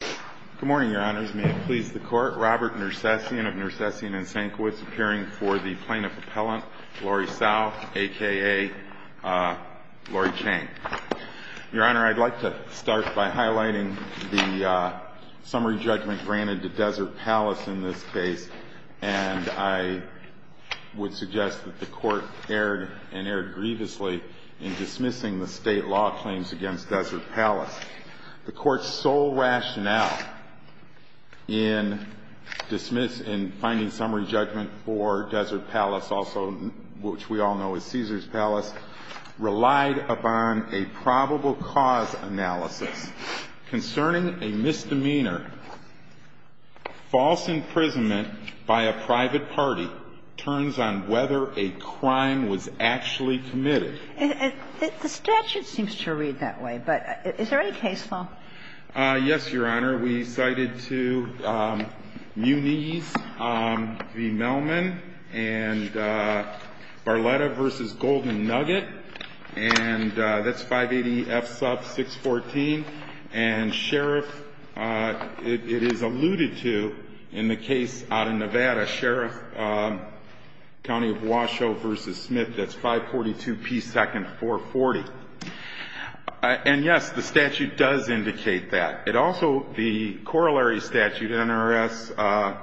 Good morning, Your Honors. May it please the Court, Robert Nersessian of Nersessian & Sanquist, appearing for the Plaintiff Appellant, Lori Tsao, a.k.a. Lori Chang. Your Honor, I'd like to start by highlighting the summary judgment granted to Desert Palace in this case, and I would suggest that the Court erred, and erred grievously, in dismissing the state law claims against Desert Palace. The Court's sole rationale in dismissing, in finding summary judgment for Desert Palace, also which we all know is Caesars Palace, relied upon a probable cause analysis. Concerning a misdemeanor, false imprisonment by a private party turns on whether a crime was actually committed. The statute seems to read that way, but is there any case law? Yes, Your Honor. We cited to Muniz v. Melman and Barletta v. Golden Nugget, and that's 580 F. Suff 614. And Sheriff, it is alluded to in the case out of Nevada, Sheriff County of Washoe v. Smith, that's 542 P. Second 440. And, yes, the statute does indicate that. It also, the corollary statute, NRS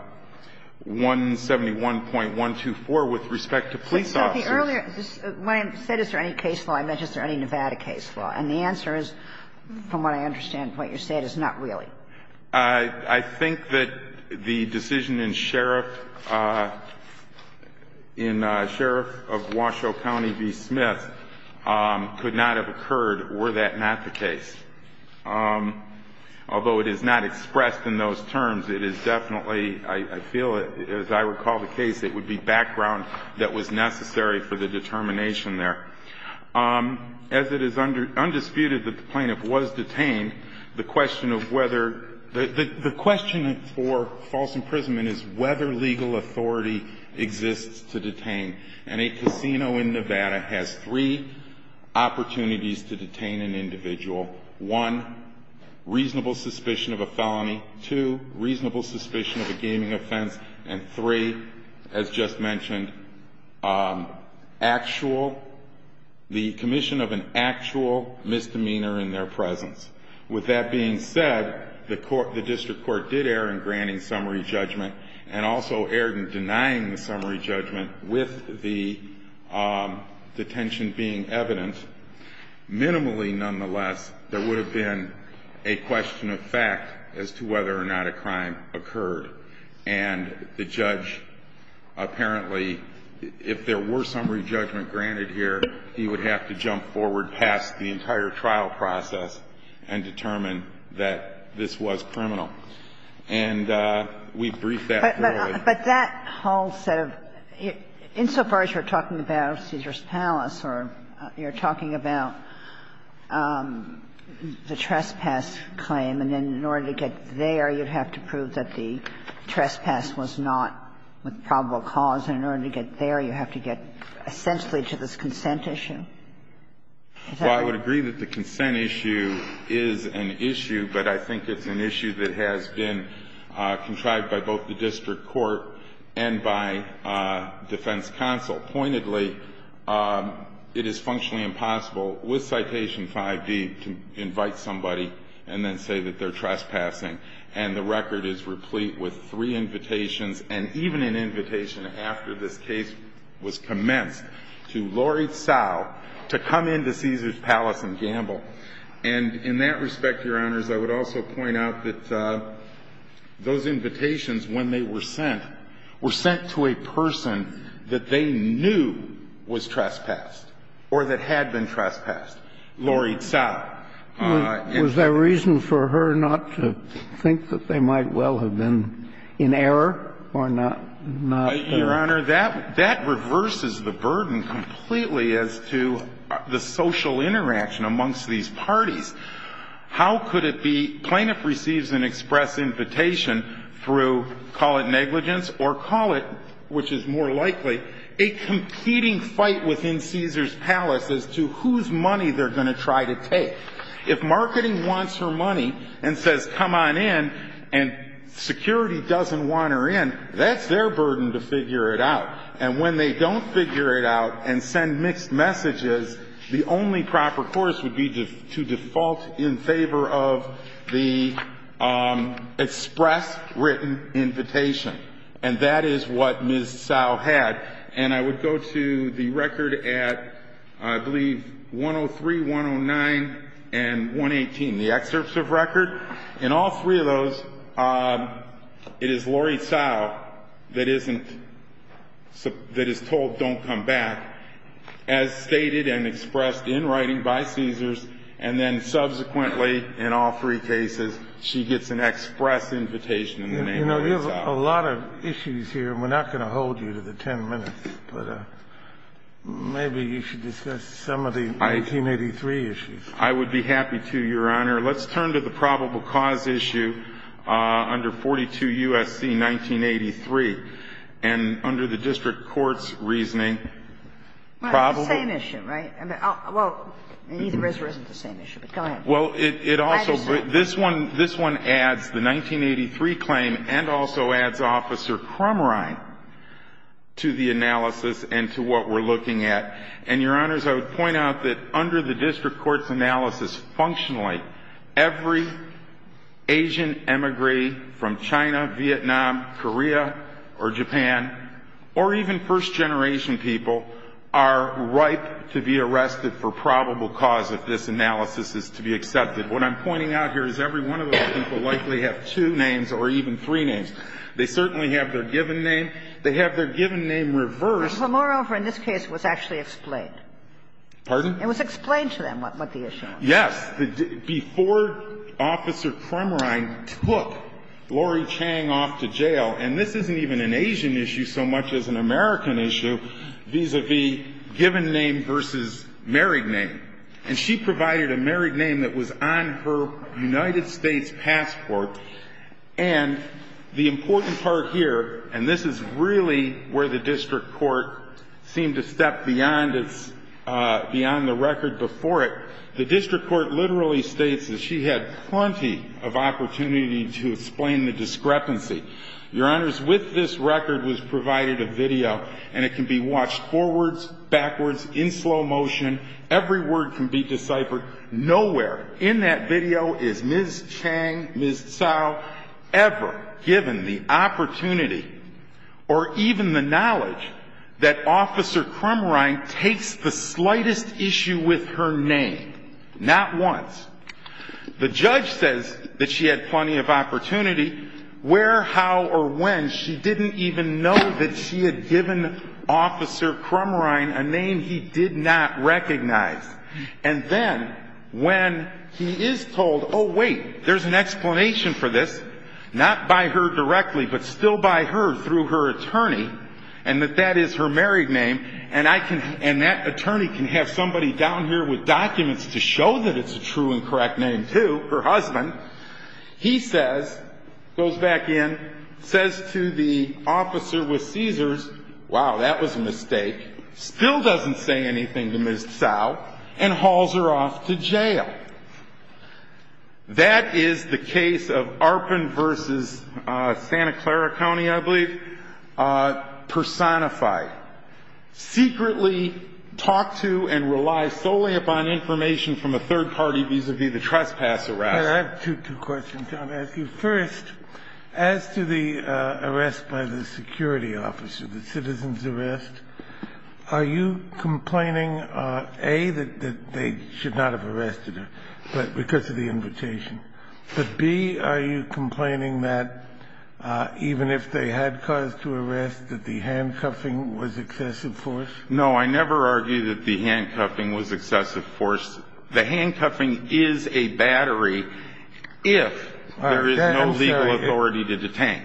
171.124, with respect to police officers. But, Sophie, earlier when I said is there any case law, I mentioned is there any Nevada case law, and the answer is, from what I understand from what you said, is not really. I think that the decision in Sheriff, in Sheriff of Washoe County v. Smith, could not have occurred were that not the case. Although it is not expressed in those terms, it is definitely, I feel as I recall the case, it would be background that was necessary for the determination there. As it is undisputed that the plaintiff was detained, the question of whether the question for false imprisonment is whether legal authority exists to detain. And a casino in Nevada has three opportunities to detain an individual. One, reasonable suspicion of a felony. Two, reasonable suspicion of a gaming offense. And three, as just mentioned, actual, the commission of an actual misdemeanor in their presence. With that being said, the district court did err in granting summary judgment and also erred in denying the summary judgment with the detention being evident. Minimally, nonetheless, there would have been a question of fact as to whether or not a crime occurred. And the judge apparently, if there were summary judgment granted here, he would have to jump forward past the entire trial process and determine that this was criminal. And we briefed that thoroughly. But that whole set of – insofar as you're talking about Caesar's Palace or you're talking about the trespass claim, and then in order to get there, you'd have to prove that the trespass was not with probable cause. And in order to get there, you have to get essentially to this consent issue. Is that right? Well, I would agree that the consent issue is an issue, but I think it's an issue that has been contrived by both the district court and by defense counsel. Pointedly, it is functionally impossible with Citation 5d to invite somebody and then say that they're trespassing. And the record is replete with three invitations, and even an invitation after this case was commenced to Laurie Tsao to come into Caesar's Palace and gamble. And in that respect, Your Honors, I would also point out that those invitations, when they were sent, were sent to a person that they knew was trespassed or that had been trespassed, Laurie Tsao. Was there reason for her not to think that they might well have been in error or not been? Your Honor, that reverses the burden completely as to the social interaction amongst these parties. How could it be plaintiff receives an express invitation through, call it negligence or call it, which is more likely, a competing fight within Caesar's Palace as to whose money they're going to try to take? If marketing wants her money and says, come on in, and security doesn't want her in, that's their burden to figure it out. And when they don't figure it out and send mixed messages, the only proper course would be to default in favor of the express written invitation. And that is what Ms. Tsao had. And I would go to the record at, I believe, 103, 109, and 118, the excerpts of record. In all three of those, it is Laurie Tsao that isn't, that is told don't come back, as stated and expressed in writing by Caesars. And then subsequently, in all three cases, she gets an express invitation in the name of Laurie Tsao. You know, there's a lot of issues here, and we're not going to hold you to the 10 minutes, but maybe you should discuss some of the 1983 issues. I would be happy to, Your Honor. Let's turn to the probable cause issue under 42 U.S.C. 1983. And under the district court's reasoning, probable. Well, it's the same issue, right? Well, either is or isn't the same issue, but go ahead. Well, it also, this one adds the 1983 claim and also adds Officer Crumrine to the analysis and to what we're looking at. And, Your Honors, I would point out that under the district court's analysis functionally, every Asian emigre from China, Vietnam, Korea, or Japan, or even first generation people, are ripe to be arrested for probable cause if this analysis is to be accepted. What I'm pointing out here is every one of those people likely have two names or even three names. They certainly have their given name. They have their given name reversed. But moreover, in this case, it was actually explained. Pardon? It was explained to them what the issue was. Yes. Before Officer Crumrine took Laurie Tsao off to jail, and this isn't even an Asian issue so much as an American issue vis-a-vis given name versus married name. And she provided a married name that was on her United States passport. And the important part here, and this is really where the district court seemed to step beyond the record before it, the district court literally states that she had plenty of opportunity to explain the discrepancy. Your Honors, with this record was provided a video, and it can be watched forwards, backwards, in slow motion. Every word can be deciphered. Nowhere in that video is Ms. Chang, Ms. Tsao ever given the opportunity or even the knowledge that Officer Crumrine takes the slightest issue with her name, not once. The judge says that she had plenty of opportunity. Where, how, or when, she didn't even know that she had given Officer Crumrine a name he did not recognize. And then when he is told, oh, wait, there's an explanation for this, not by her directly, but still by her through her attorney, and that that is her married name, and that attorney can have somebody down here with documents to show that it's a true and correct name, too, her husband, he says, goes back in, says to the officer with Caesars, wow, that was a mistake, still doesn't say anything to Ms. Tsao, and hauls her off to jail. That is the case of Arpin v. Santa Clara County, I believe, personified. Secretly talked to and relies solely upon information from a third party vis-à-vis the trespass arrest. I have two questions I want to ask you. First, as to the arrest by the security officer, the citizen's arrest, are you complaining, A, that they should not have arrested her because of the invitation, but, B, are you No, I never argue that the handcuffing was excessive force. The handcuffing is a battery if there is no legal authority to detain.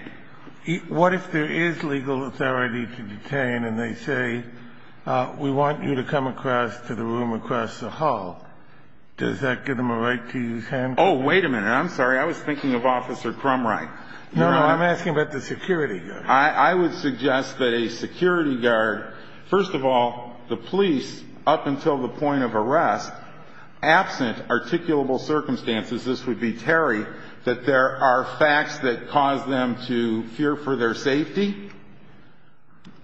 What if there is legal authority to detain and they say, we want you to come across to the room across the hall, does that give them a right to use handcuffs? Oh, wait a minute. I'm sorry. I was thinking of Officer Crumright. No, no, I'm asking about the security guard. I would suggest that a security guard, first of all, the police, up until the point of arrest, absent articulable circumstances, this would be Terry, that there are facts that cause them to fear for their safety,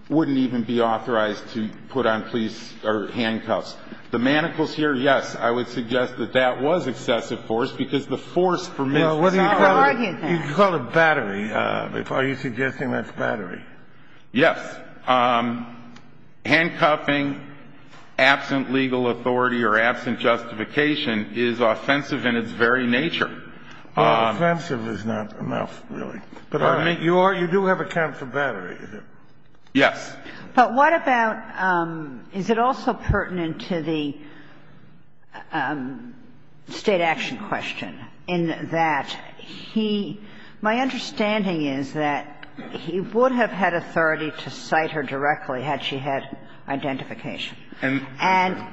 wouldn't even be authorized to put on police or handcuffs. The manacles here, yes, I would suggest that that was excessive force because the force for me is not what you call a battery. Are you suggesting that's battery? Yes. Handcuffing absent legal authority or absent justification is offensive in its very nature. Well, offensive is not enough, really. But I mean, you do have a count for battery, is it? Yes. But what about, is it also pertinent to the State action question? In that he – my understanding is that he would have had authority to cite her directly had she had identification. And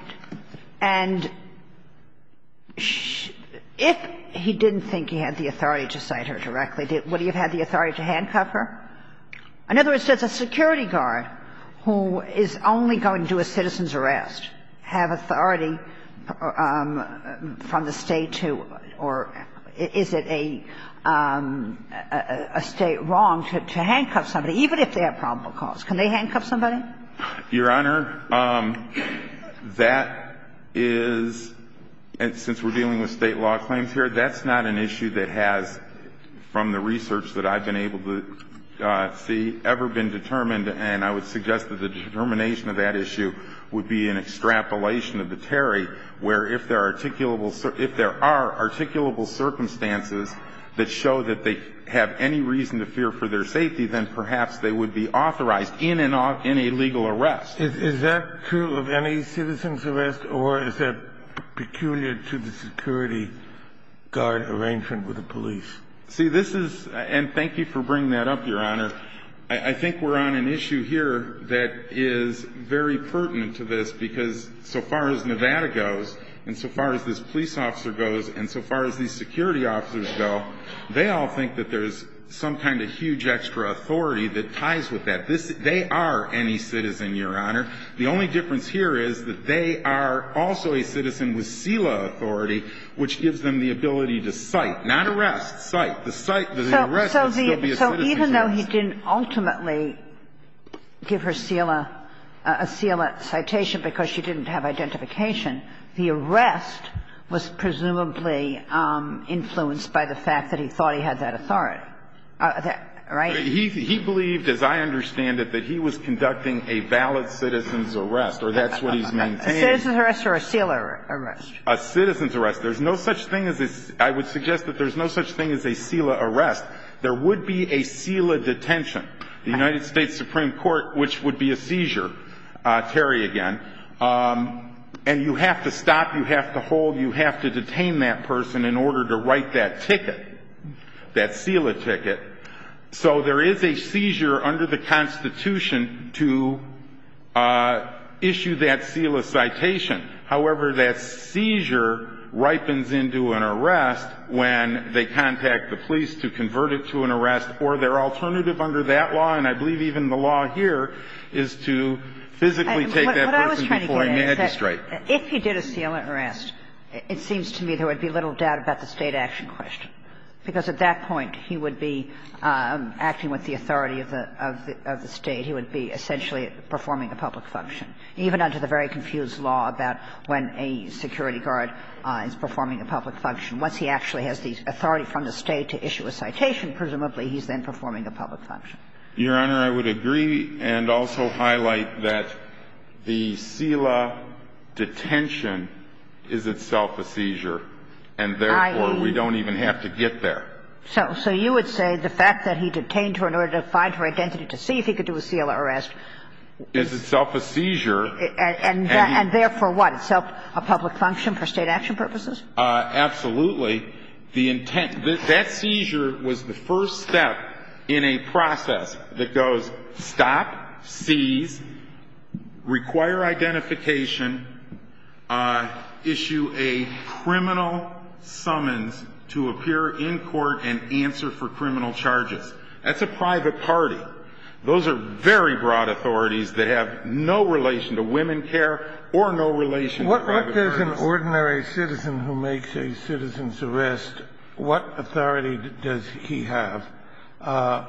if he didn't think he had the authority to cite her directly, would he have had the authority to handcuff her? In other words, does a security guard who is only going to do a citizen's arrest have authority from the State to – or is it a State wrong to handcuff somebody, even if they have probable cause? Can they handcuff somebody? Your Honor, that is – since we're dealing with State law claims here, that's not an issue that has, from the research that I've been able to see, ever been determined. And I would suggest that the determination of that issue would be an extrapolation of the Terry, where if there are articulable – if there are articulable circumstances that show that they have any reason to fear for their safety, then perhaps they would be authorized in an – in a legal arrest. Is that true of any citizen's arrest? Or is that peculiar to the security guard arrangement with the police? See, this is – and thank you for bringing that up, Your Honor. I think we're on an issue here that is very pertinent to this, because so far as Nevada goes, and so far as this police officer goes, and so far as these security officers go, they all think that there's some kind of huge extra authority that ties with that. They are any citizen, Your Honor. The only difference here is that they are also a citizen with CELA authority, which gives them the ability to cite – not arrest, cite. But the cite – the arrest would still be a citizen's arrest. So even though he didn't ultimately give her CELA – a CELA citation because she didn't have identification, the arrest was presumably influenced by the fact that he thought he had that authority, right? He believed, as I understand it, that he was conducting a valid citizen's arrest, or that's what he's maintained. A citizen's arrest or a CELA arrest? A citizen's arrest. There's no such thing as a – I would suggest that there's no such thing as a CELA arrest. There would be a CELA detention. The United States Supreme Court, which would be a seizure, Terry again, and you have to stop, you have to hold, you have to detain that person in order to write that ticket, that CELA ticket. So there is a seizure under the Constitution to issue that CELA citation. However, that seizure ripens into an arrest when they contact the police to convert it to an arrest or their alternative under that law, and I believe even the law here is to physically take that person before a magistrate. If he did a CELA arrest, it seems to me there would be little doubt about the State action question, because at that point he would be acting with the authority of the State. He would be essentially performing a public function. Even under the very confused law about when a security guard is performing a public function. Once he actually has the authority from the State to issue a citation, presumably he's then performing a public function. Your Honor, I would agree and also highlight that the CELA detention is itself a seizure, and therefore we don't even have to get there. So you would say the fact that he detained her in order to find her identity to see if he could do a CELA arrest. It's itself a seizure. And therefore what? It's a public function for State action purposes? Absolutely. That seizure was the first step in a process that goes stop, seize, require identification, issue a criminal summons to appear in court and answer for criminal charges. That's a private party. Those are very broad authorities that have no relation to women care or no relation to private parties. What does an ordinary citizen who makes a citizen's arrest, what authority does he have? A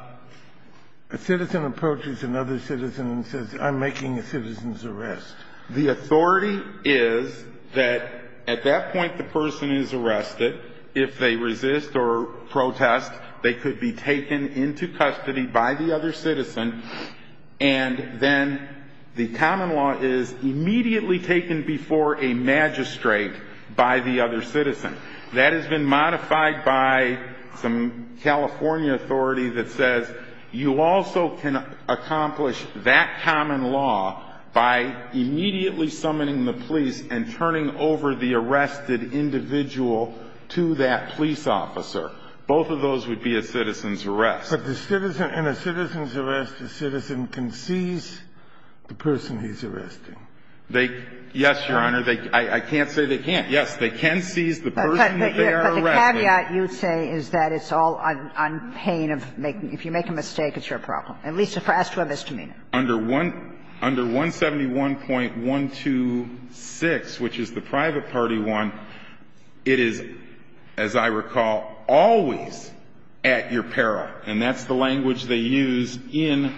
citizen approaches another citizen and says, I'm making a citizen's arrest. The authority is that at that point the person is arrested. If they resist or protest, they could be taken into custody by the other citizen, and then the common law is immediately taken before a magistrate by the other citizen. That has been modified by some California authority that says you also can accomplish that common law by immediately summoning the police and turning over the arrested individual to that police officer. Both of those would be a citizen's arrest. But the citizen in a citizen's arrest, the citizen can seize the person he's arresting. Yes, Your Honor. I can't say they can't. Yes, they can seize the person that they are arresting. But the caveat you say is that it's all on pain of making – if you make a mistake, it's your problem. At least as far as to a misdemeanor. Under 171.126, which is the private party one, it is, as I recall, always at your peril. And that's the language they use in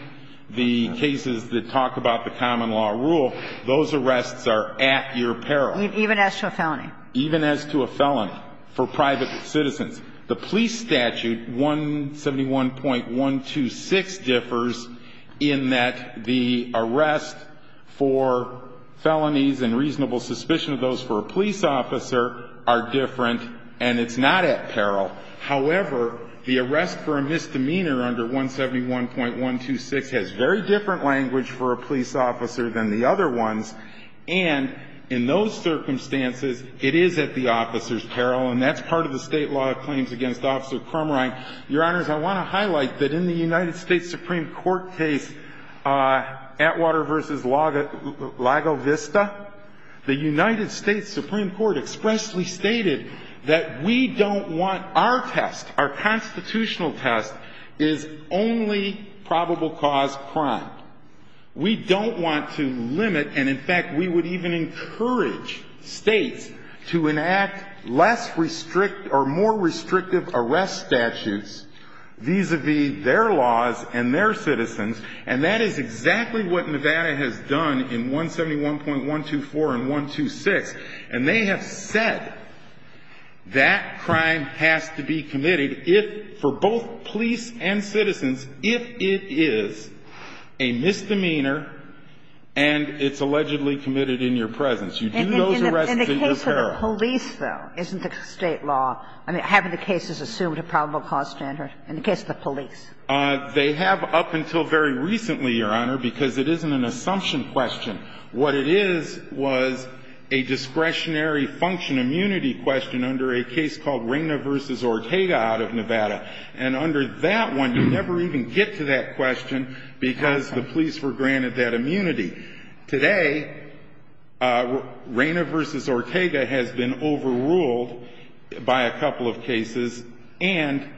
the cases that talk about the common law rule. Those arrests are at your peril. Even as to a felony. Even as to a felony for private citizens. The police statute, 171.126, differs in that the arrest for felonies and reasonable suspicion of those for a police officer are different, and it's not at peril. However, the arrest for a misdemeanor under 171.126 has very different language for a police officer than the other ones. And in those circumstances, it is at the officer's peril. And that's part of the state law claims against Officer Crumrine. Your Honors, I want to highlight that in the United States Supreme Court case, Atwater v. Lago Vista, the United States Supreme Court expressly stated that we don't want our test, our constitutional test, is only probable cause crime. We don't want to limit, and in fact, we would even encourage states to enact less or more restrictive arrest statutes vis-a-vis their laws and their citizens. And that is exactly what Nevada has done in 171.124 and 126. And they have said that crime has to be committed for both police and citizens if it is a misdemeanor and it's allegedly committed in your presence. You do those arrests at your peril. And in the case of the police, though, isn't the State law, I mean, haven't the cases assumed a probable cause standard in the case of the police? They have up until very recently, Your Honor, because it isn't an assumption question. What it is was a discretionary function immunity question under a case called And we didn't get to that question because the police were granted that immunity. Today, Reyna v. Ortega has been overruled by a couple of cases, and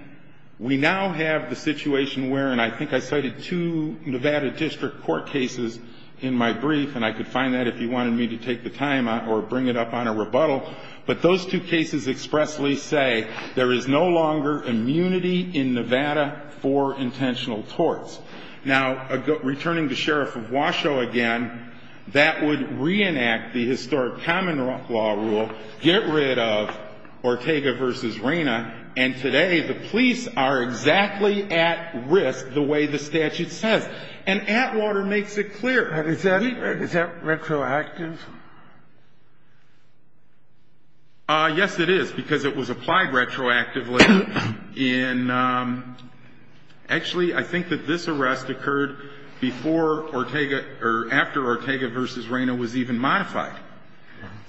we now have the situation wherein I think I cited two Nevada District Court cases in my brief, and I could find that if you wanted me to take the time or bring it up on a rebuttal. But those two cases expressly say there is no longer immunity in Nevada for intentional torts. Now, returning to Sheriff of Washoe again, that would reenact the historic common law rule, get rid of Ortega v. Reyna, and today the police are exactly at risk the way the statute says. And Atwater makes it clear. Is that retroactive? Yes, it is, because it was applied retroactively in actually I think that this arrest occurred before Ortega or after Ortega v. Reyna was even modified.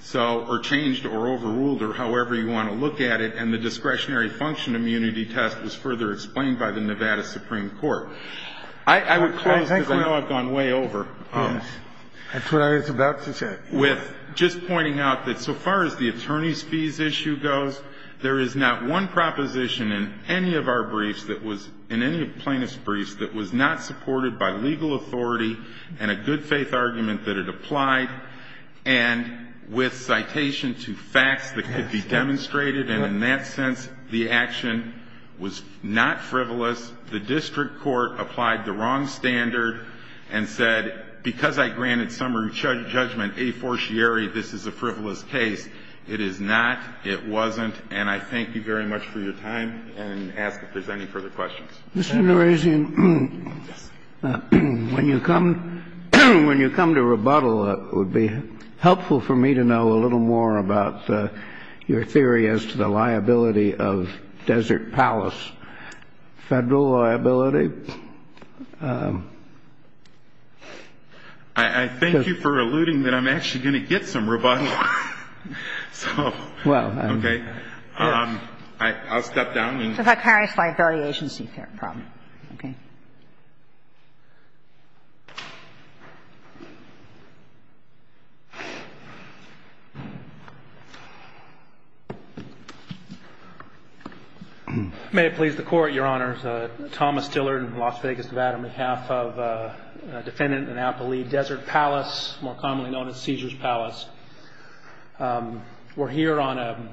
So or changed or overruled or however you want to look at it, and the discretionary function immunity test was further explained by the Nevada Supreme Court. I would close, because I know I've gone way over. That's what I was about to say. With just pointing out that so far as the attorneys' fees issue goes, there is not one proposition in any of our briefs that was, in any of Plaintiff's briefs, that was not supported by legal authority and a good-faith argument that it applied. And with citation to facts that could be demonstrated, and in that sense the action was not frivolous. The district court applied the wrong standard and said, because I granted summary judgment a fortiori, this is a frivolous case. It is not. It wasn't. And I thank you very much for your time and ask if there's any further questions. Mr. LaRosier, when you come to rebuttal, it would be helpful for me to know a little more about your theory as to the liability of Desert Palace, Federal liability. I thank you for alluding that I'm actually going to get some rebuttal. So, okay. Well, yes. I'll step down. I'm sorry. It's a vicarious liability agency problem. Okay. May it please the Court, Your Honors. Thomas Dillard in Las Vegas, Nevada, on behalf of Defendant Annapoli Desert Palace, more commonly known as Caesar's Palace. We're here on an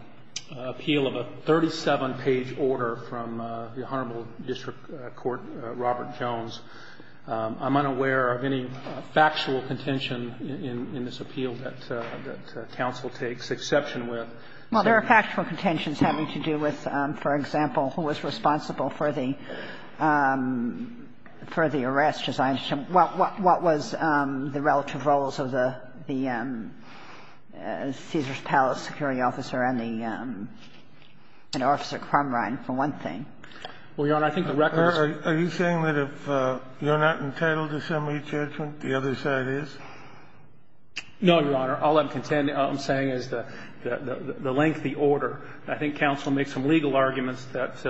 appeal of a 37-page order from the Honorable District Court Robert Jones. I'm unaware of any factual contention in this appeal that counsel takes exception with. Well, there are factual contentions having to do with, for example, who was responsible for the arrest, as I understand. What was the relative roles of the Caesar's Palace security officer and the officer Cromerine, for one thing? Well, Your Honor, I think the record is... Are you saying that if you're not entitled to summary judgment, the other side is? No, Your Honor. All I'm saying is the lengthy order. I think counsel makes some legal arguments that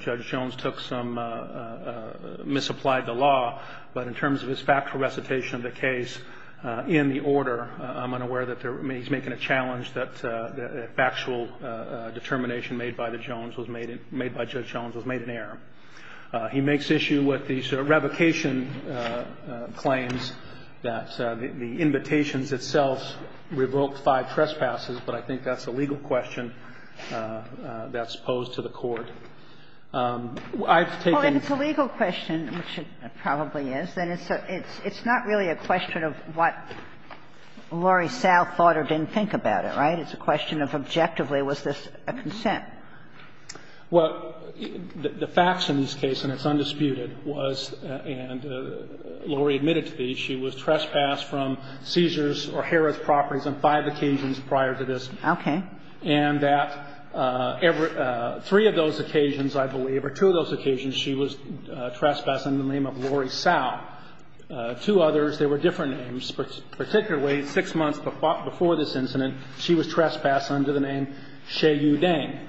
Judge Jones took some, misapplied the law, but in terms of his factual recitation of the case in the order, I'm unaware that he's making a challenge that factual determination made by Judge Jones was made an error. He makes issue with these revocation claims that the invitations itself revoked five times, and that's posed to the court. I've taken... Well, if it's a legal question, which it probably is, then it's not really a question of what Laurie South thought or didn't think about it, right? It's a question of objectively, was this a consent? Well, the facts in this case, and it's undisputed, was, and Laurie admitted to these, she was trespassed from Caesar's or Herod's properties on five occasions prior to this. Okay. And that three of those occasions, I believe, or two of those occasions, she was trespassed under the name of Laurie South. Two others, they were different names, but particularly six months before this incident, she was trespassed under the name Shea Yudeng.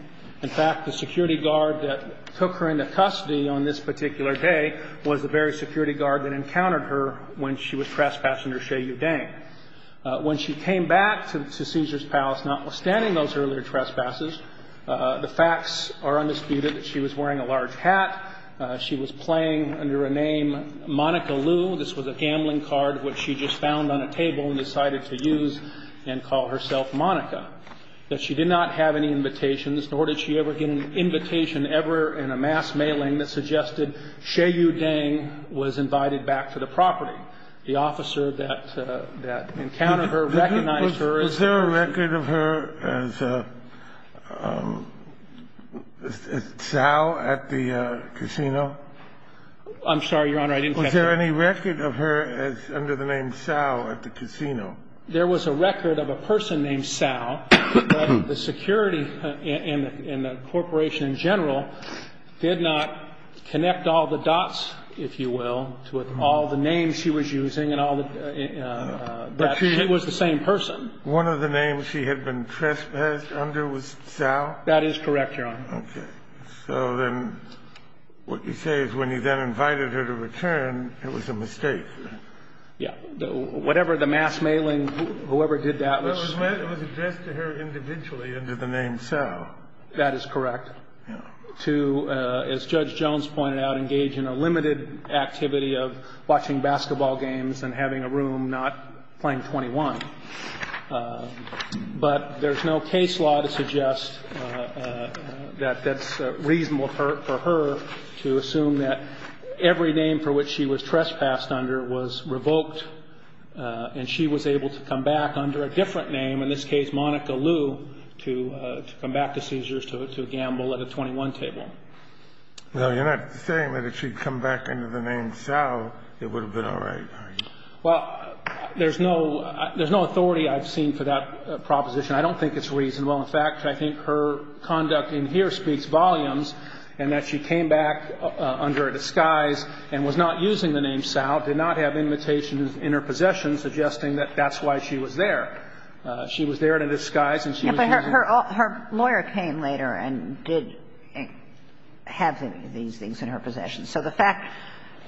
In fact, the security guard that took her into custody on this particular day was the very security guard that encountered her when she was trespassing her Shea Yudeng. When she came back to Caesar's Palace, notwithstanding those earlier trespasses, the facts are undisputed that she was wearing a large hat. She was playing under a name Monica Liu. This was a gambling card which she just found on a table and decided to use and call herself Monica. That she did not have any invitations, nor did she ever get an invitation ever in a mass mailing that suggested Shea Yudeng was invited back to the property. The officer that encountered her recognized her as the person. Was there a record of her as Sal at the casino? I'm sorry, Your Honor, I didn't catch that. Was there any record of her as under the name Sal at the casino? There was a record of a person named Sal. The security and the corporation in general did not connect all the dots, if you will, with all the names she was using and all the – that she was the same person. One of the names she had been trespassed under was Sal? That is correct, Your Honor. Okay. So then what you say is when he then invited her to return, it was a mistake. Yeah. Whatever the mass mailing, whoever did that was – It was addressed to her individually under the name Sal. That is correct. Yeah. As Judge Jones pointed out, engage in a limited activity of watching basketball games and having a room, not playing 21. But there's no case law to suggest that that's reasonable for her to assume that every name for which she was trespassed under was revoked and she was able to come back under a different name, in this case Monica Liu, to come back to Caesars to gamble at a 21 table. No, you're not saying that if she'd come back under the name Sal, it would have been all right, are you? Well, there's no – there's no authority I've seen for that proposition. I don't think it's reasonable. In fact, I think her conduct in here speaks volumes in that she came back under a disguise and was not using the name Sal, did not have invitations in her possession suggesting that that's why she was there. She was there in a disguise and she was using the name Sal. But her lawyer came later and did have these things in her possession. So the fact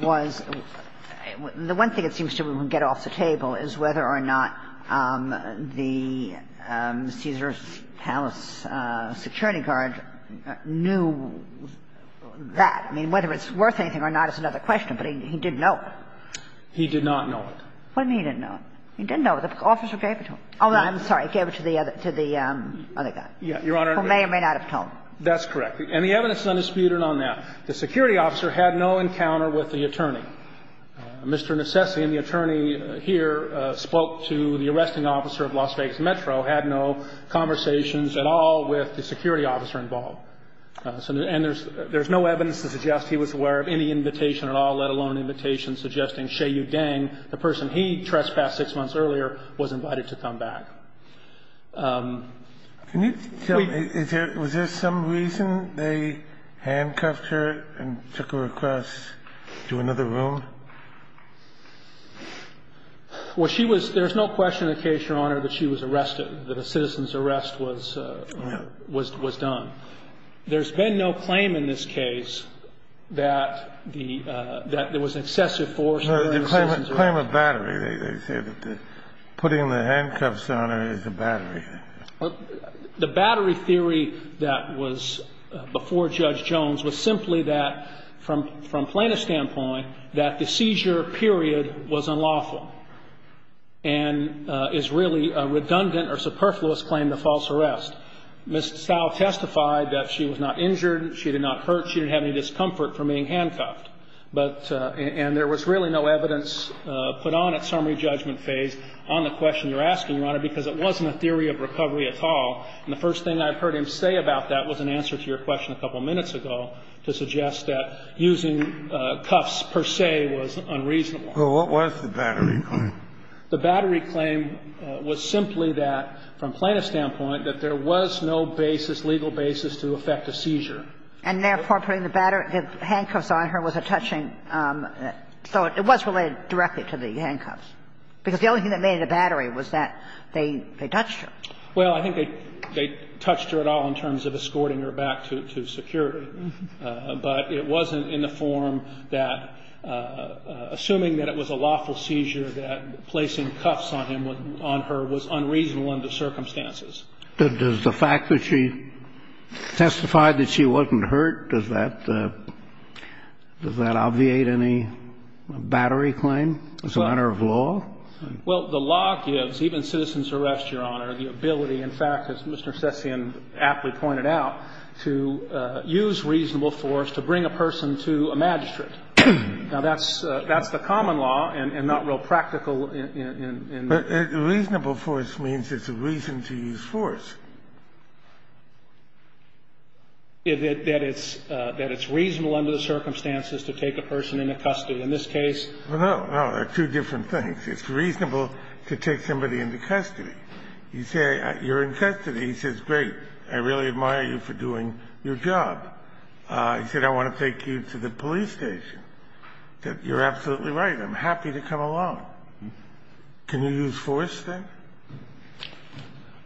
was – the one thing it seems to get off the table is whether or not the Caesars Palace security guard knew that. I mean, whether it's worth anything or not is another question, but he didn't know it. He did not know it. What do you mean he didn't know it? He didn't know it. The officer gave it to him. Oh, I'm sorry. Gave it to the other – to the other guy. Your Honor. Who may or may not have told him. That's correct. And the evidence is undisputed on that. The security officer had no encounter with the attorney. Mr. Necessi and the attorney here spoke to the arresting officer of Las Vegas Metro, had no conversations at all with the security officer involved. And there's no evidence to suggest he was aware of any invitation at all, let alone an invitation suggesting Shea Yudeng, the person he trespassed six months earlier, was invited to come back. Can you tell me, is there – was there some reason they handcuffed her and took her across to another room? Well, she was – there's no question in the case, Your Honor, that she was arrested, that a citizen's arrest was – was done. There's been no claim in this case that the – that there was excessive force. No, they claim a battery. They say that putting the handcuffs on her is a battery. The battery theory that was before Judge Jones was simply that, from plaintiff's standpoint, that the seizure period was unlawful and is really a redundant or superfluous claim to false arrest. Ms. Stahl testified that she was not injured, she did not hurt, she didn't have any discomfort from being handcuffed. But – and there was really no evidence put on at summary judgment phase on the question you're asking, Your Honor, because it wasn't a theory of recovery at all. And the first thing I've heard him say about that was an answer to your question a couple minutes ago to suggest that using cuffs per se was unreasonable. Well, what was the battery claim? The battery claim was simply that, from plaintiff's standpoint, that there was no basis, legal basis to affect a seizure. And therefore, putting the battery – the handcuffs on her was a touching – so it was related directly to the handcuffs, because the only thing that made it a battery was that they touched her. Well, I think they touched her at all in terms of escorting her back to security. But it wasn't in the form that, assuming that it was a lawful seizure, that placing cuffs on him, on her, was unreasonable under circumstances. But does the fact that she testified that she wasn't hurt, does that – does that obviate any battery claim as a matter of law? Well, the law gives, even citizen's arrest, Your Honor, the ability, in fact, as Mr. Session aptly pointed out, to use reasonable force to bring a person to a magistrate. Now, that's – that's the common law and not real practical in the – But reasonable force means it's a reason to use force. That it's – that it's reasonable under the circumstances to take a person into custody. In this case – Well, no. No. They're two different things. It's reasonable to take somebody into custody. You say you're in custody. He says, great. I really admire you for doing your job. He said, I want to take you to the police station. You're absolutely right. I'm happy to come along. Can you use force there?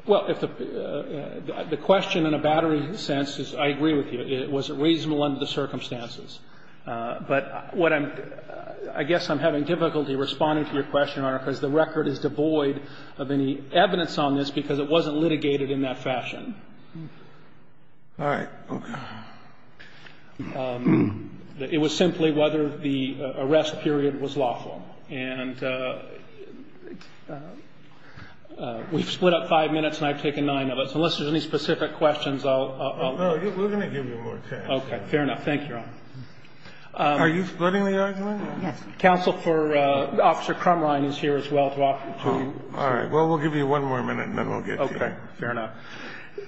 Well, if the – the question in a battery sense is I agree with you. It was reasonable under the circumstances. But what I'm – I guess I'm having difficulty responding to your question, Your Honor, because the record is devoid of any evidence on this because it wasn't litigated in that fashion. All right. Okay. It was simply whether the arrest period was lawful. And we've split up five minutes, and I've taken nine of us. Unless there's any specific questions, I'll – No. We're going to give you more time. Okay. Fair enough. Thank you, Your Honor. Are you splitting the argument? Yes. Counsel for Officer Crumline is here as well to offer to you. All right. Well, we'll give you one more minute, and then we'll get to you. Okay. Fair enough.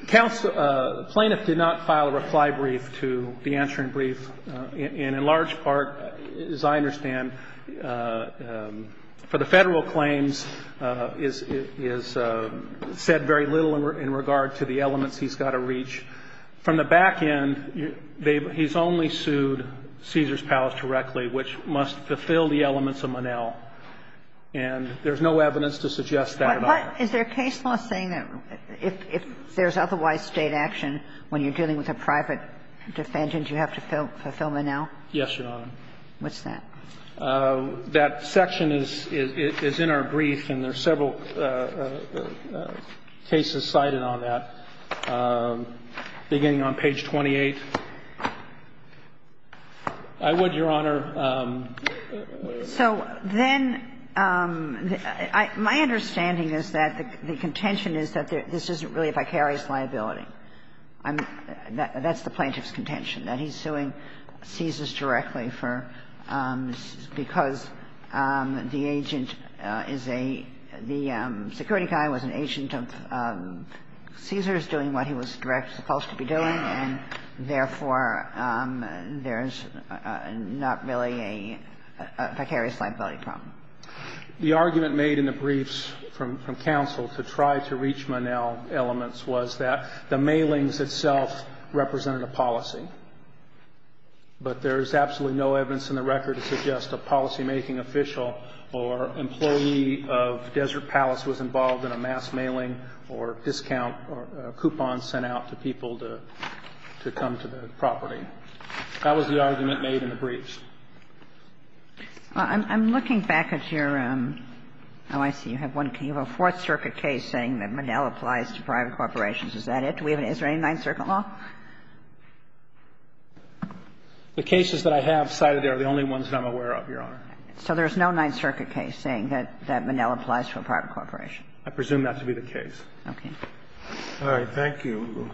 Counsel, the plaintiff did not file a reply brief to the answering brief, and in large part, as I understand, for the Federal claims is – is said very little in regard to the elements he's got to reach. From the back end, they've – he's only sued Caesars Palace directly, which must fulfill the elements of Monell. And there's no evidence to suggest that at all. Is there a case law saying that if there's otherwise state action when you're dealing with a private defendant, you have to fulfill Monell? Yes, Your Honor. What's that? That section is in our brief, and there are several cases cited on that, beginning on page 28. I would, Your Honor – So then my understanding is that the contention is that this isn't really a vicarious liability. That's the plaintiff's contention, that he's suing Caesars directly for – because the agent is a – the security guy was an agent of Caesars doing what he was supposed to be doing, and therefore, there's not really a vicarious liability problem. The argument made in the briefs from – from counsel to try to reach Monell elements was that the mailings itself represented a policy, but there's absolutely no evidence in the record to suggest a policymaking official or employee of Desert Isle to come to the property. That was the argument made in the briefs. I'm looking back at your – oh, I see. You have a Fourth Circuit case saying that Monell applies to private corporations. Is that it? Is there any Ninth Circuit law? The cases that I have cited are the only ones that I'm aware of, Your Honor. So there's no Ninth Circuit case saying that Monell applies to a private corporation? I presume that to be the case. Okay. All right. Thank you. Thank you.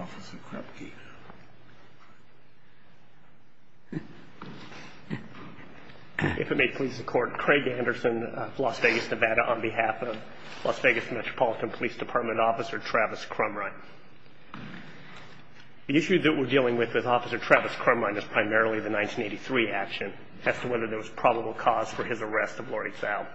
Officer Krupke. If it may please the Court, Craig Anderson, Las Vegas, Nevada, on behalf of Las Vegas Metropolitan Police Department Officer Travis Crumrine. The issue that we're dealing with with Officer Travis Crumrine is primarily the 1983 action as to whether there was probable cause for his arrest of Lori Fowle.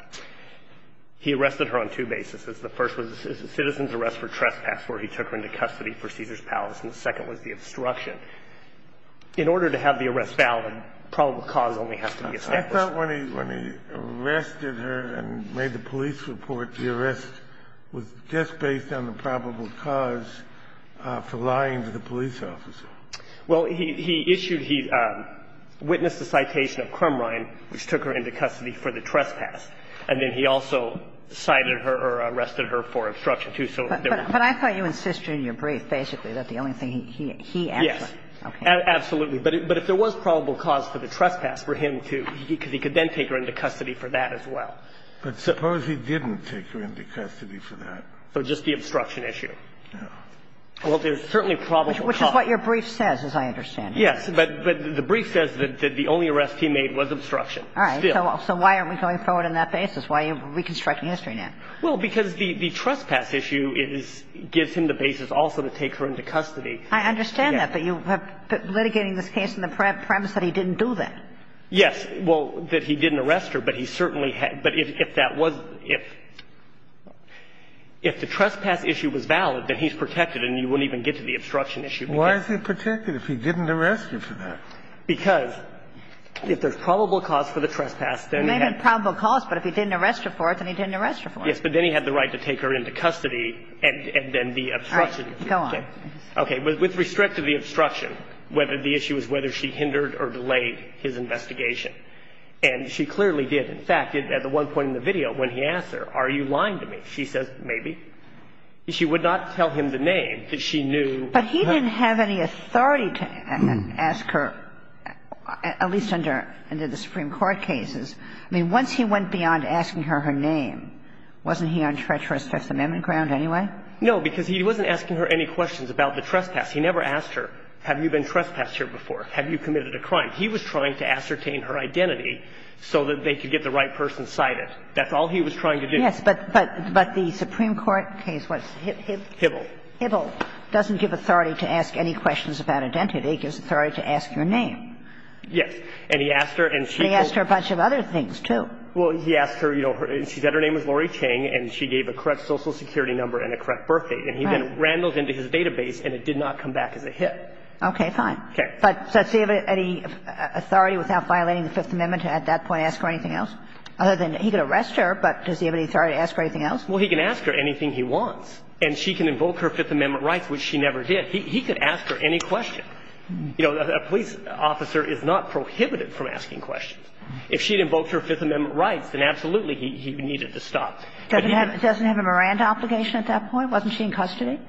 He arrested her on two bases. The first was a citizen's arrest for trespass, where he took her into custody for Caesar's Palace. And the second was the obstruction. In order to have the arrest valid, probable cause only has to be established. I thought when he arrested her and made the police report, the arrest was just based on the probable cause for lying to the police officer. Well, he issued he witnessed the citation of Crumrine, which took her into custody for the trespass. And then he also cited her or arrested her for obstruction, too. But I thought you insisted in your brief, basically, that the only thing he actually Yes. Okay. Absolutely. But if there was probable cause for the trespass for him to, because he could then take her into custody for that as well. But suppose he didn't take her into custody for that? For just the obstruction issue. No. Well, there's certainly probable cause. Which is what your brief says, as I understand it. Yes. But the brief says that the only arrest he made was obstruction. Still. All right. So why aren't we going forward on that basis? Why are you reconstructing history now? Well, because the trespass issue gives him the basis also to take her into custody. I understand that. But you are litigating this case on the premise that he didn't do that. Yes. Well, that he didn't arrest her. But he certainly had. But if that was the case, if the trespass issue was valid, then he's protected and you wouldn't even get to the obstruction issue. Why is he protected if he didn't arrest her for that? Because if there's probable cause for the trespass, then he had. There may have been probable cause, but if he didn't arrest her for it, then he didn't arrest her for it. Yes. But then he had the right to take her into custody and then the obstruction issue. All right. Go on. Okay. With restricted the obstruction, the issue is whether she hindered or delayed his investigation. And she clearly did. In fact, at the one point in the video when he asked her, are you lying to me, she says, maybe. She would not tell him the name that she knew. But he didn't have any authority to ask her, at least under the Supreme Court cases. I mean, once he went beyond asking her her name, wasn't he on treacherous First Amendment ground anyway? No, because he wasn't asking her any questions about the trespass. He never asked her, have you been trespassed here before? Have you committed a crime? He was trying to ascertain her identity so that they could get the right person That's all he was trying to do. Yes. But the Supreme Court case was Hibble. Hibble. Hibble doesn't give authority to ask any questions about identity. It gives authority to ask her name. Yes. And he asked her and she. He asked her a bunch of other things, too. Well, he asked her, you know, she said her name was Laurie Chang and she gave a correct Social Security number and a correct birthdate. Right. And he then rambled into his database and it did not come back as a hit. Okay. Okay. But does he have any authority without violating the Fifth Amendment to at that point ask her anything else? Other than he could arrest her, but does he have any authority to ask her anything else? Well, he can ask her anything he wants. And she can invoke her Fifth Amendment rights, which she never did. He could ask her any question. You know, a police officer is not prohibited from asking questions. If she had invoked her Fifth Amendment rights, then absolutely he needed to stop. Doesn't have a Miranda obligation at that point? Wasn't she in custody?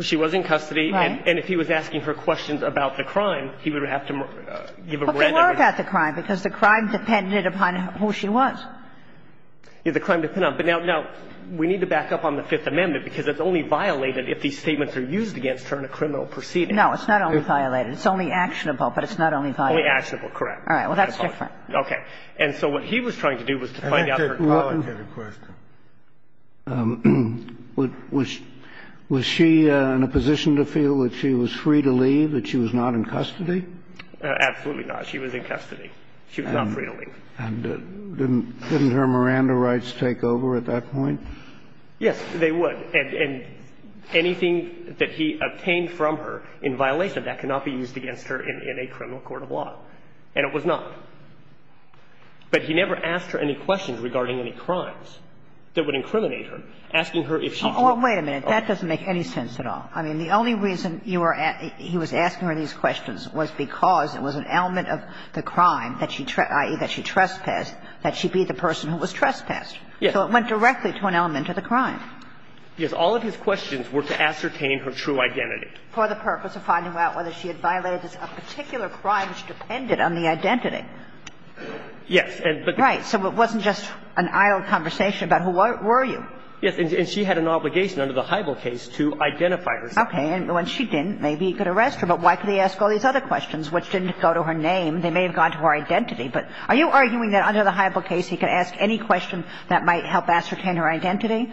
She was in custody. Right. And if he was asking her questions about the crime, he would have to give a Miranda He could have given her a Miranda right. I don't know about the crime because the crime depended upon who she was. Yes, the crime depended upon. But now we need to back up on the Fifth Amendment because it's only violated if these statements are used against her in a criminal proceeding. No, it's not only violated. It's only actionable, but it's not only violated. Only actionable, correct. All right. Well, that's different. Okay. And so what he was trying to do was to find out her question. Was she in a position to feel that she was free to leave, that she was not in custody? Absolutely not. She was in custody. She was not free to leave. And didn't her Miranda rights take over at that point? Yes, they would. And anything that he obtained from her in violation of that cannot be used against her in a criminal court of law. And it was not. But he never asked her any questions regarding any crimes that would incriminate her, asking her if she could. Oh, wait a minute. That doesn't make any sense at all. I mean, the only reason he was asking her these questions was because it was an element of the crime, i.e., that she trespassed, that she be the person who was trespassed. Yes. So it went directly to an element of the crime. Yes. All of his questions were to ascertain her true identity. For the purpose of finding out whether she had violated a particular crime which depended on the identity. Yes. Right. So it wasn't just an idle conversation about who were you? Yes. And she had an obligation under the Hybl case to identify herself. Okay. And when she didn't, maybe he could arrest her. But why could he ask all these other questions which didn't go to her name? They may have gone to her identity. But are you arguing that under the Hybl case he could ask any question that might help ascertain her identity,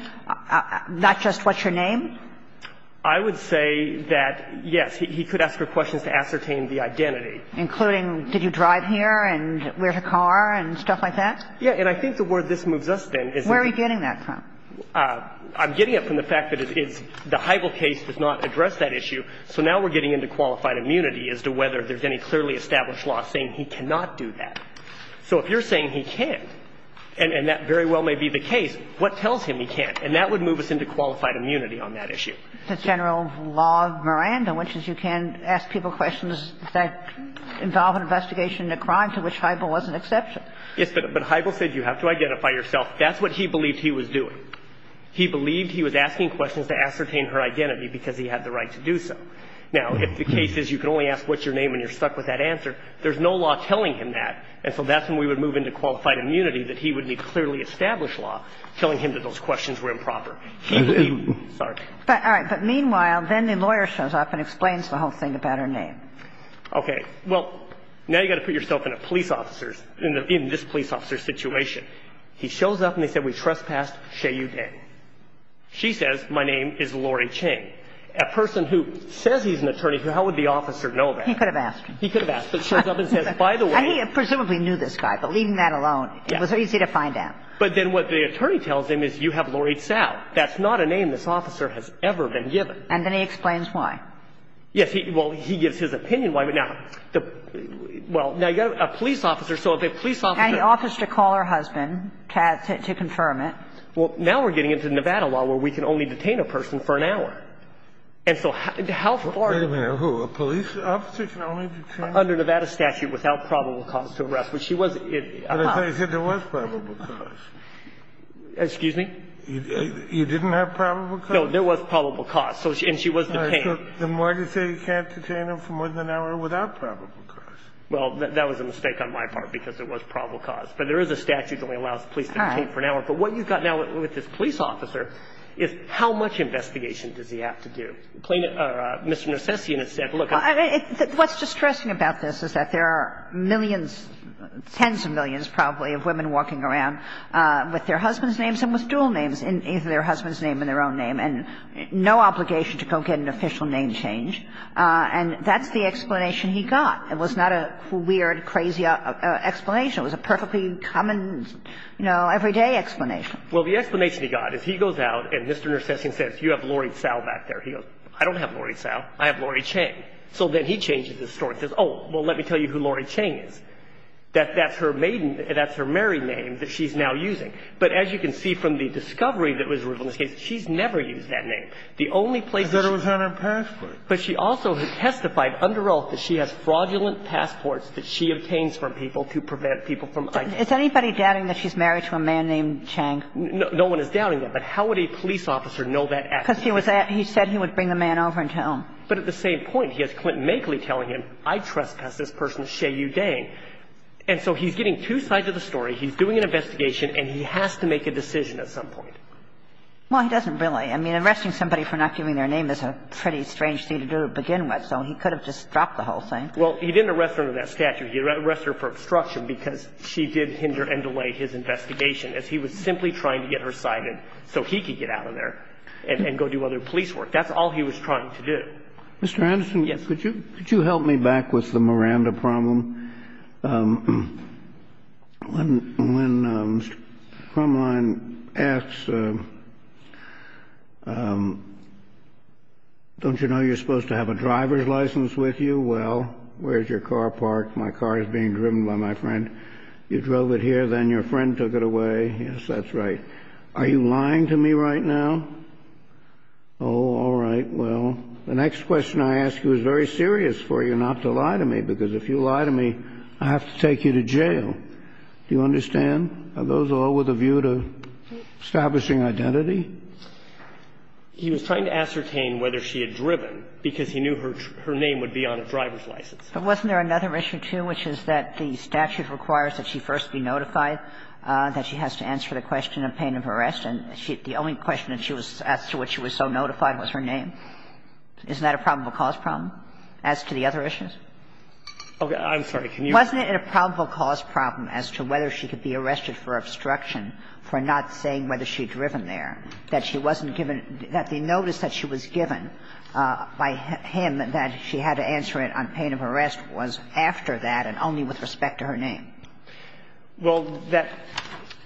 not just what's her name? I would say that, yes, he could ask her questions to ascertain the identity. Including did you drive here and where's her car and stuff like that? Yes. And I think the word this moves us, then, is that... Where are you getting that from? I'm getting it from the fact that it's the Hybl case does not address that issue. So now we're getting into qualified immunity as to whether there's any clearly established law saying he cannot do that. So if you're saying he can't and that very well may be the case, what tells him he can't? And that would move us into qualified immunity on that issue. The general law of Miranda, which is you can ask people questions that involve an investigation into a crime to which Hybl was an exception. Yes, but Hybl said you have to identify yourself. That's what he believed he was doing. He believed he was asking questions to ascertain her identity because he had the right to do so. Now, if the case is you can only ask what's your name and you're stuck with that answer, there's no law telling him that. And so that's when we would move into qualified immunity, that he would need clearly established law telling him that those questions were improper. He would be, sorry. All right. But meanwhile, then the lawyer shows up and explains the whole thing about her name. Okay. Well, now you've got to put yourself in a police officer's, in this police officer's situation. He shows up and they said, we trespassed Shea Yudeng. She says, my name is Laurie Ching. A person who says he's an attorney, how would the officer know that? He could have asked. He could have asked, but shows up and says, by the way. And he presumably knew this guy, but leaving that alone, it was easy to find out. But then what the attorney tells him is you have Laurie Tsao. That's not a name this officer has ever been given. And then he explains why. Yes. Well, he gives his opinion why. But now, well, now you've got a police officer. So if a police officer. And he offers to call her husband to confirm it. Well, now we're getting into Nevada law where we can only detain a person for an hour. And so how far. Wait a minute. Who? A police officer can only detain? Under Nevada statute without probable cause to arrest. But she was. But I thought you said there was probable cause. Excuse me? You didn't have probable cause? There was probable cause. And she was detained. The more you say you can't detain them for more than an hour without probable cause. Well, that was a mistake on my part because it was probable cause. But there is a statute that only allows the police to detain for an hour. All right. But what you've got now with this police officer is how much investigation does he have to do? Mr. Narcissian has said, look. What's distressing about this is that there are millions, tens of millions probably, of women walking around with their husbands' names and with dual names in either their husband's name and their own name. And no obligation to go get an official name change. And that's the explanation he got. It was not a weird, crazy explanation. It was a perfectly common, you know, everyday explanation. Well, the explanation he got is he goes out and Mr. Narcissian says, you have Laurie Tsao back there. He goes, I don't have Laurie Tsao. I have Laurie Chang. So then he changes his story. He says, oh, well, let me tell you who Laurie Chang is. That's her maiden – that's her married name that she's now using. But as you can see from the discovery that was revealed in this case, she's never used that name. The only place – I thought it was on her passport. But she also has testified under oath that she has fraudulent passports that she obtains from people to prevent people from – Is anybody doubting that she's married to a man named Chang? No. No one is doubting that. But how would a police officer know that actually? Because he was at – he said he would bring the man over and tell him. But at the same point, he has Clinton Makeley telling him, I trespassed this person's Shea Yu Dang. And so he's getting two sides of the story. He's doing an investigation, and he has to make a decision at some point. Well, he doesn't really. I mean, arresting somebody for not giving their name is a pretty strange thing to do to begin with. So he could have just dropped the whole thing. Well, he didn't arrest her under that statute. He arrested her for obstruction because she did hinder and delay his investigation as he was simply trying to get her cited so he could get out of there and go do other police work. That's all he was trying to do. Mr. Anderson? Yes. Could you help me back with the Miranda problem? When Crumline asks, don't you know you're supposed to have a driver's license with you? Well, where's your car parked? My car is being driven by my friend. You drove it here, then your friend took it away. Yes, that's right. Are you lying to me right now? Oh, all right. Well, the next question I ask you is very serious for you not to lie to me, because if you lie to me, I have to take you to jail. Do you understand? Are those all with a view to establishing identity? He was trying to ascertain whether she had driven because he knew her name would be on a driver's license. But wasn't there another issue, too, which is that the statute requires that she first be notified, that she has to answer the question of pain of arrest, and the only question that she was asked to which she was so notified was her name. Isn't that a probable cause problem as to the other issues? Okay. I'm sorry. Can you go on? Wasn't it a probable cause problem as to whether she could be arrested for obstruction for not saying whether she had driven there, that she wasn't given the notice that she was given by him that she had to answer it on pain of arrest was after that and only with respect to her name? Well, that,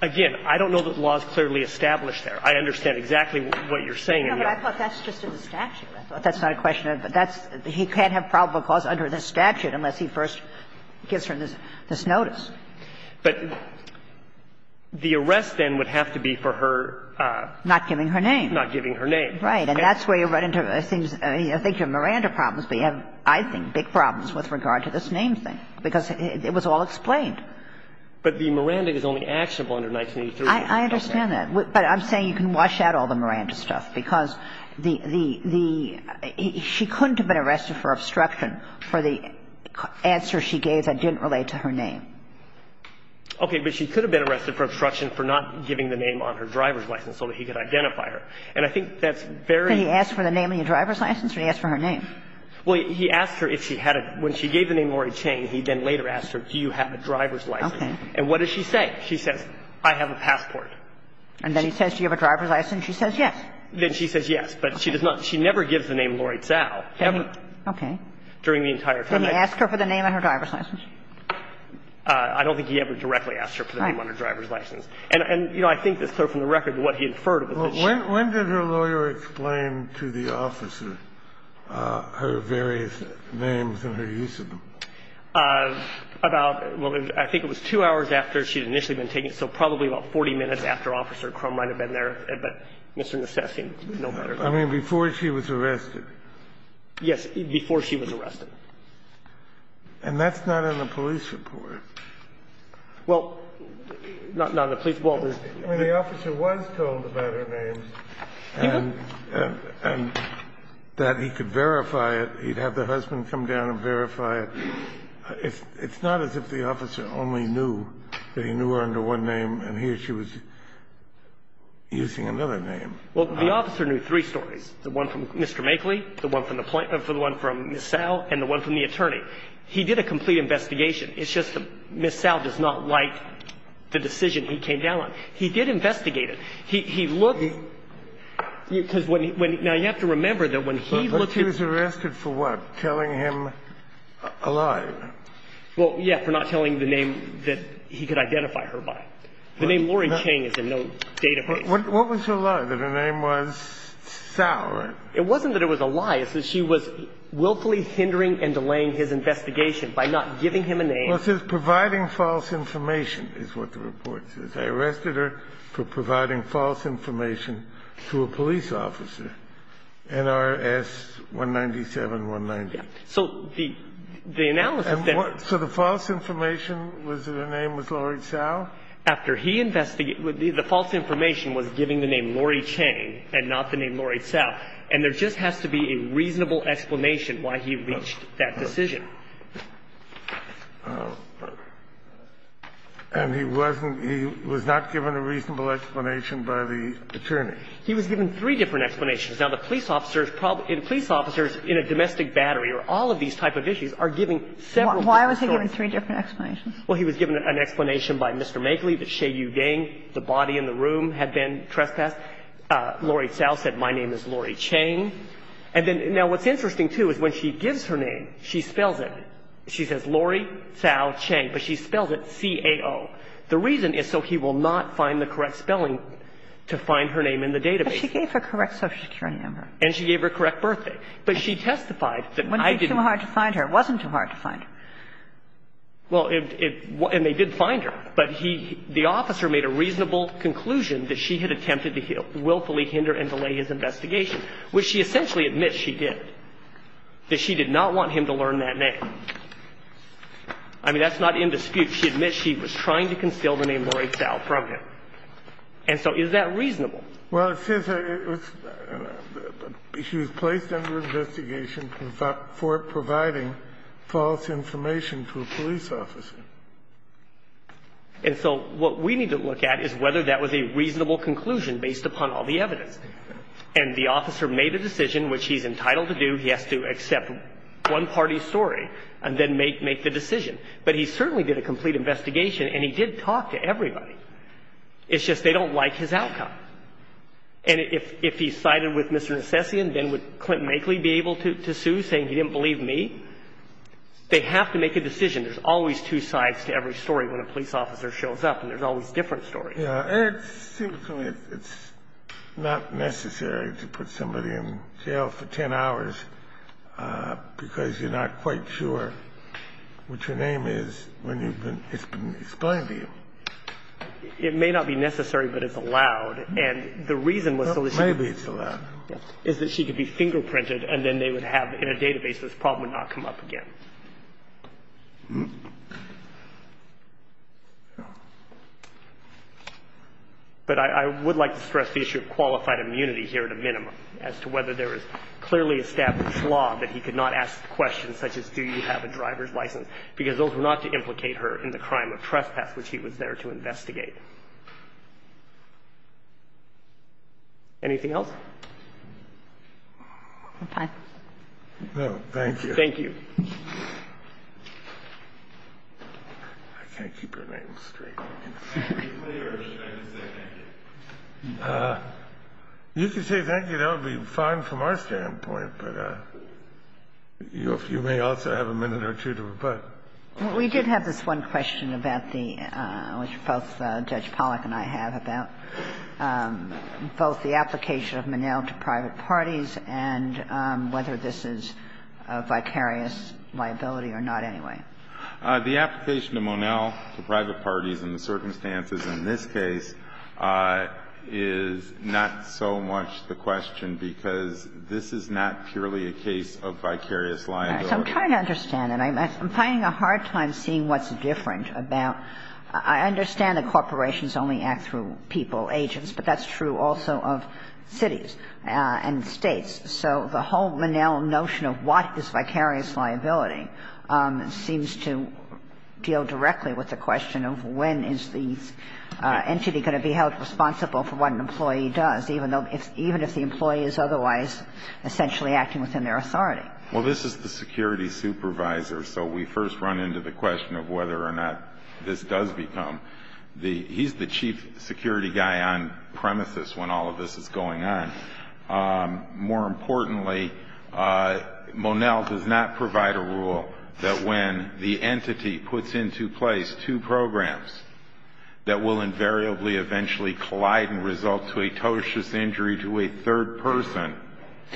again, I don't know that the law is clearly established there. I understand exactly what you're saying. No, but I thought that's just in the statute. I thought that's not a question. But that's he can't have probable cause under the statute unless he first gives her this notice. But the arrest then would have to be for her. Not giving her name. Not giving her name. Right. And that's where you run into things. I think you have Miranda problems, but you have, I think, big problems with regard to this name thing, because it was all explained. But the Miranda is only actionable under 1983. I understand that. But I'm saying you can wash out all the Miranda stuff, because the the she couldn't have been arrested for obstruction for the answer she gave that didn't relate to her name. Okay. But she could have been arrested for obstruction for not giving the name on her driver's license so that he could identify her. And I think that's very. Did he ask for the name on your driver's license or did he ask for her name? Well, he asked her if she had a, when she gave the name Lori Chang, he then later asked her, do you have a driver's license? And what does she say? She says, I have a passport. And then he says, do you have a driver's license? She says yes. Then she says yes, but she does not. She never gives the name Lori Tsao. Never. Okay. During the entire time. Did he ask her for the name on her driver's license? I don't think he ever directly asked her for the name on her driver's license. And, you know, I think that's clear from the record what he inferred was that she. Well, when did her lawyer explain to the officer her various names and her use of them? About, well, I think it was two hours after she had initially been taken, so probably about 40 minutes after Officer Crum might have been there. But Mr. Necessi, no better. I mean, before she was arrested. Yes. Before she was arrested. And that's not in the police report. Well, not in the police report. I mean, the officer was told about her name. He was? And that he could verify it. He'd have the husband come down and verify it. It's not as if the officer only knew that he knew her under one name and he or she was using another name. Well, the officer knew three stories. The one from Mr. Makeley, the one from Ms. Sal, and the one from the attorney. He did a complete investigation. It's just that Ms. Sal does not like the decision he came down on. He did investigate it. He looked. Now, you have to remember that when he looked at. But she was arrested for what? For not telling him a lie. Well, yeah, for not telling the name that he could identify her by. The name Lauren Chang is in no database. What was her lie? That her name was Sal, right? It wasn't that it was a lie. It says she was willfully hindering and delaying his investigation by not giving him a name. Well, it says providing false information is what the report says. I arrested her for providing false information to a police officer, NRS 197-190. So the analysis that. So the false information was that her name was Laurie Sal? After he investigated. The false information was giving the name Laurie Chang and not the name Laurie Sal. And there just has to be a reasonable explanation why he reached that decision. And he wasn't he was not given a reasonable explanation by the attorney. He was given three different explanations. Now, the police officers probably the police officers in a domestic battery or all of these type of issues are giving several different stories. Why was he given three different explanations? Well, he was given an explanation by Mr. Megley that Shea Yu Ding, the body in the room, had been trespassed. Laurie Sal said, my name is Laurie Chang. Now, what's interesting, too, is when she gives her name, she spells it. She says Laurie Sal Chang, but she spells it C-A-O. The reason is so he will not find the correct spelling to find her name in the database. But she gave her correct Social Security number. And she gave her correct birthday. But she testified that I didn't. Wouldn't be too hard to find her. It wasn't too hard to find her. Well, and they did find her. But the officer made a reasonable conclusion that she had attempted to willfully hinder and delay his investigation, which she essentially admits she did. That she did not want him to learn that name. I mean, that's not in dispute. She admits she was trying to conceal the name Laurie Sal from him. And so is that reasonable? Well, it says she was placed under investigation for providing false information to a police officer. And so what we need to look at is whether that was a reasonable conclusion based upon all the evidence. And the officer made a decision, which he's entitled to do. He has to accept one party's story and then make the decision. But he certainly did a complete investigation. And he did talk to everybody. It's just they don't like his outcome. And if he sided with Mr. Nesessian, then would Clint Makeley be able to sue, saying he didn't believe me? They have to make a decision. There's always two sides to every story when a police officer shows up. And there's always different stories. It seems to me it's not necessary to put somebody in jail for 10 hours because you're not quite sure what your name is when it's been explained to you. It may not be necessary, but it's allowed. And the reason was so that she could be fingerprinted and then they would have in a database this problem would not come up again. But I would like to stress the issue of qualified immunity here at a minimum, as to whether there is clearly established law that he could not ask questions such as, do you have a driver's license? Because those were not to implicate her in the crime of trespass, which he was there to investigate. Anything else? No, thank you. Thank you. I can't keep your name straight. You can say thank you. That would be fine from our standpoint. But you may also have a minute or two to rebut. Well, we did have this one question about the – which both Judge Pollack and I have been talking about, both the application of Monell to private parties and whether this is a vicarious liability or not anyway. The application of Monell to private parties in the circumstances in this case is not so much the question because this is not purely a case of vicarious liability. I'm trying to understand. And I'm finding a hard time seeing what's different about – I understand that corporations only act through people, agents, but that's true also of cities and states. So the whole Monell notion of what is vicarious liability seems to deal directly with the question of when is the entity going to be held responsible for what an employee does, even if the employee is otherwise essentially acting within their authority. Well, this is the security supervisor. So we first run into the question of whether or not this does become the – he's the chief security guy on premises when all of this is going on. More importantly, Monell does not provide a rule that when the entity puts into place two programs that will invariably eventually collide and result to a totitious injury to a third person.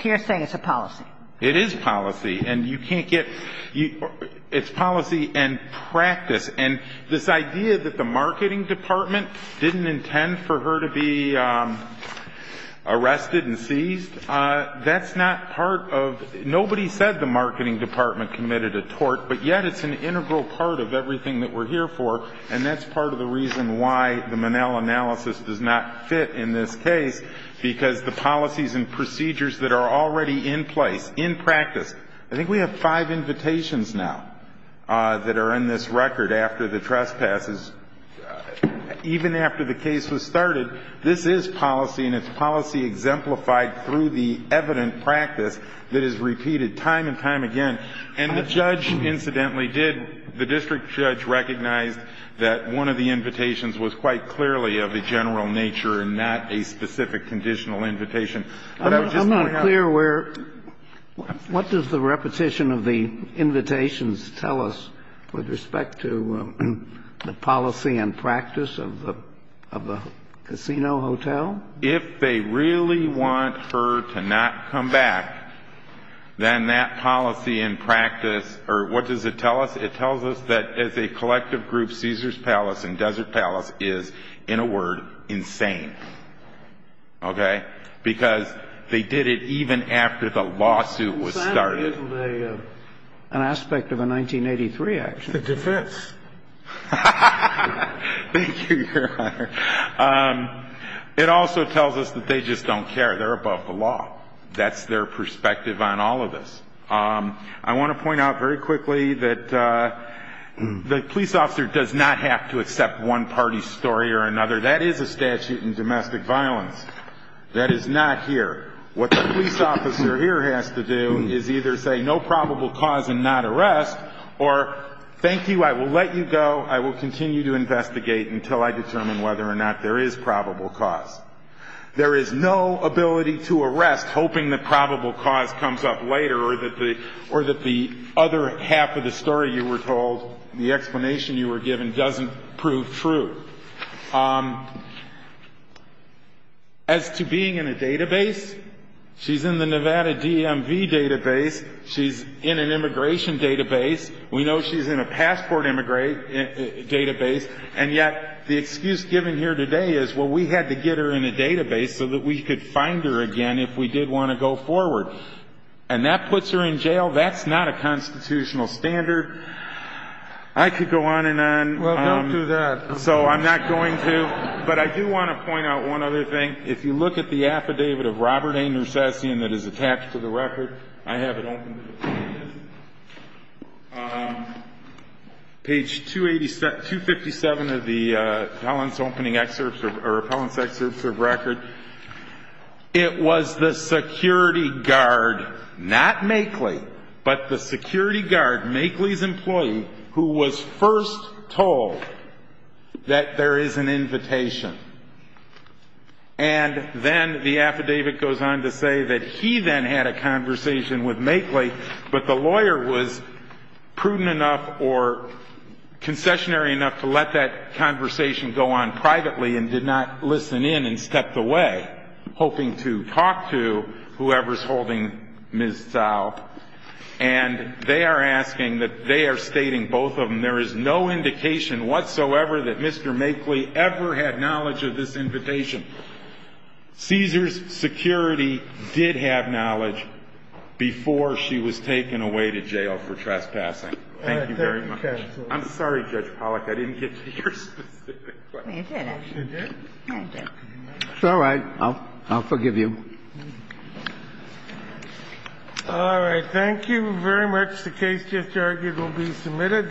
You're saying it's a policy. It is policy. And you can't get – it's policy and practice. And this idea that the marketing department didn't intend for her to be arrested and seized, that's not part of – nobody said the marketing department committed a tort, but yet it's an integral part of everything that we're here for. And that's part of the reason why the Monell analysis does not fit in this case, because the policies and procedures that are already in place, in practice – I think we have five invitations now that are in this record after the trespasses. Even after the case was started, this is policy, and it's policy exemplified through the evident practice that is repeated time and time again. And the judge, incidentally, did – the district judge recognized that one of the I'm not clear where – what does the repetition of the invitations tell us with respect to the policy and practice of the casino hotel? If they really want her to not come back, then that policy and practice – or what does it tell us? It tells us that as a collective group, Caesar's Palace and Desert Palace is, in a word, insane. Okay? Because they did it even after the lawsuit was started. It's an aspect of a 1983 action. It's a defense. Thank you, Your Honor. It also tells us that they just don't care. They're above the law. That's their perspective on all of this. I want to point out very quickly that the police officer does not have to accept one party's story or another. That is a statute in domestic violence. That is not here. What the police officer here has to do is either say no probable cause and not arrest or thank you, I will let you go. I will continue to investigate until I determine whether or not there is probable cause. There is no ability to arrest hoping that probable cause comes up later or that the other half of the story you were told, the explanation you were given, doesn't prove true. As to being in a database, she's in the Nevada DMV database. She's in an immigration database. We know she's in a passport database. And yet the excuse given here today is, well, we had to get her in a database so that we could find her again if we did want to go forward. And that puts her in jail. That's not a constitutional standard. I could go on and on. Well, don't do that. So I'm not going to. But I do want to point out one other thing. If you look at the affidavit of Robert A. Nersessian that is attached to the record, I have it open to the public. Page 257 of the Appellant's opening excerpts or Appellant's excerpts of record. It was the security guard, not Makeley, but the security guard, Makeley's employee, who was first told that there is an invitation. And then the affidavit goes on to say that he then had a conversation with Makeley, but the lawyer was prudent enough or concessionary enough to let that conversation go on privately and did not listen in and stepped away, hoping to talk to whoever's holding Ms. Zao. And they are asking that they are stating, both of them, there is no indication whatsoever that Mr. Makeley ever had knowledge of this invitation. Cesar's security did have knowledge before she was taken away to jail for trespassing. Thank you very much. Thank you, counsel. I'm sorry, Judge Pollack. I didn't get to your specific question. You did, actually. I did. It's all right. I'll forgive you. All right. Thank you very much. The case just argued will be submitted.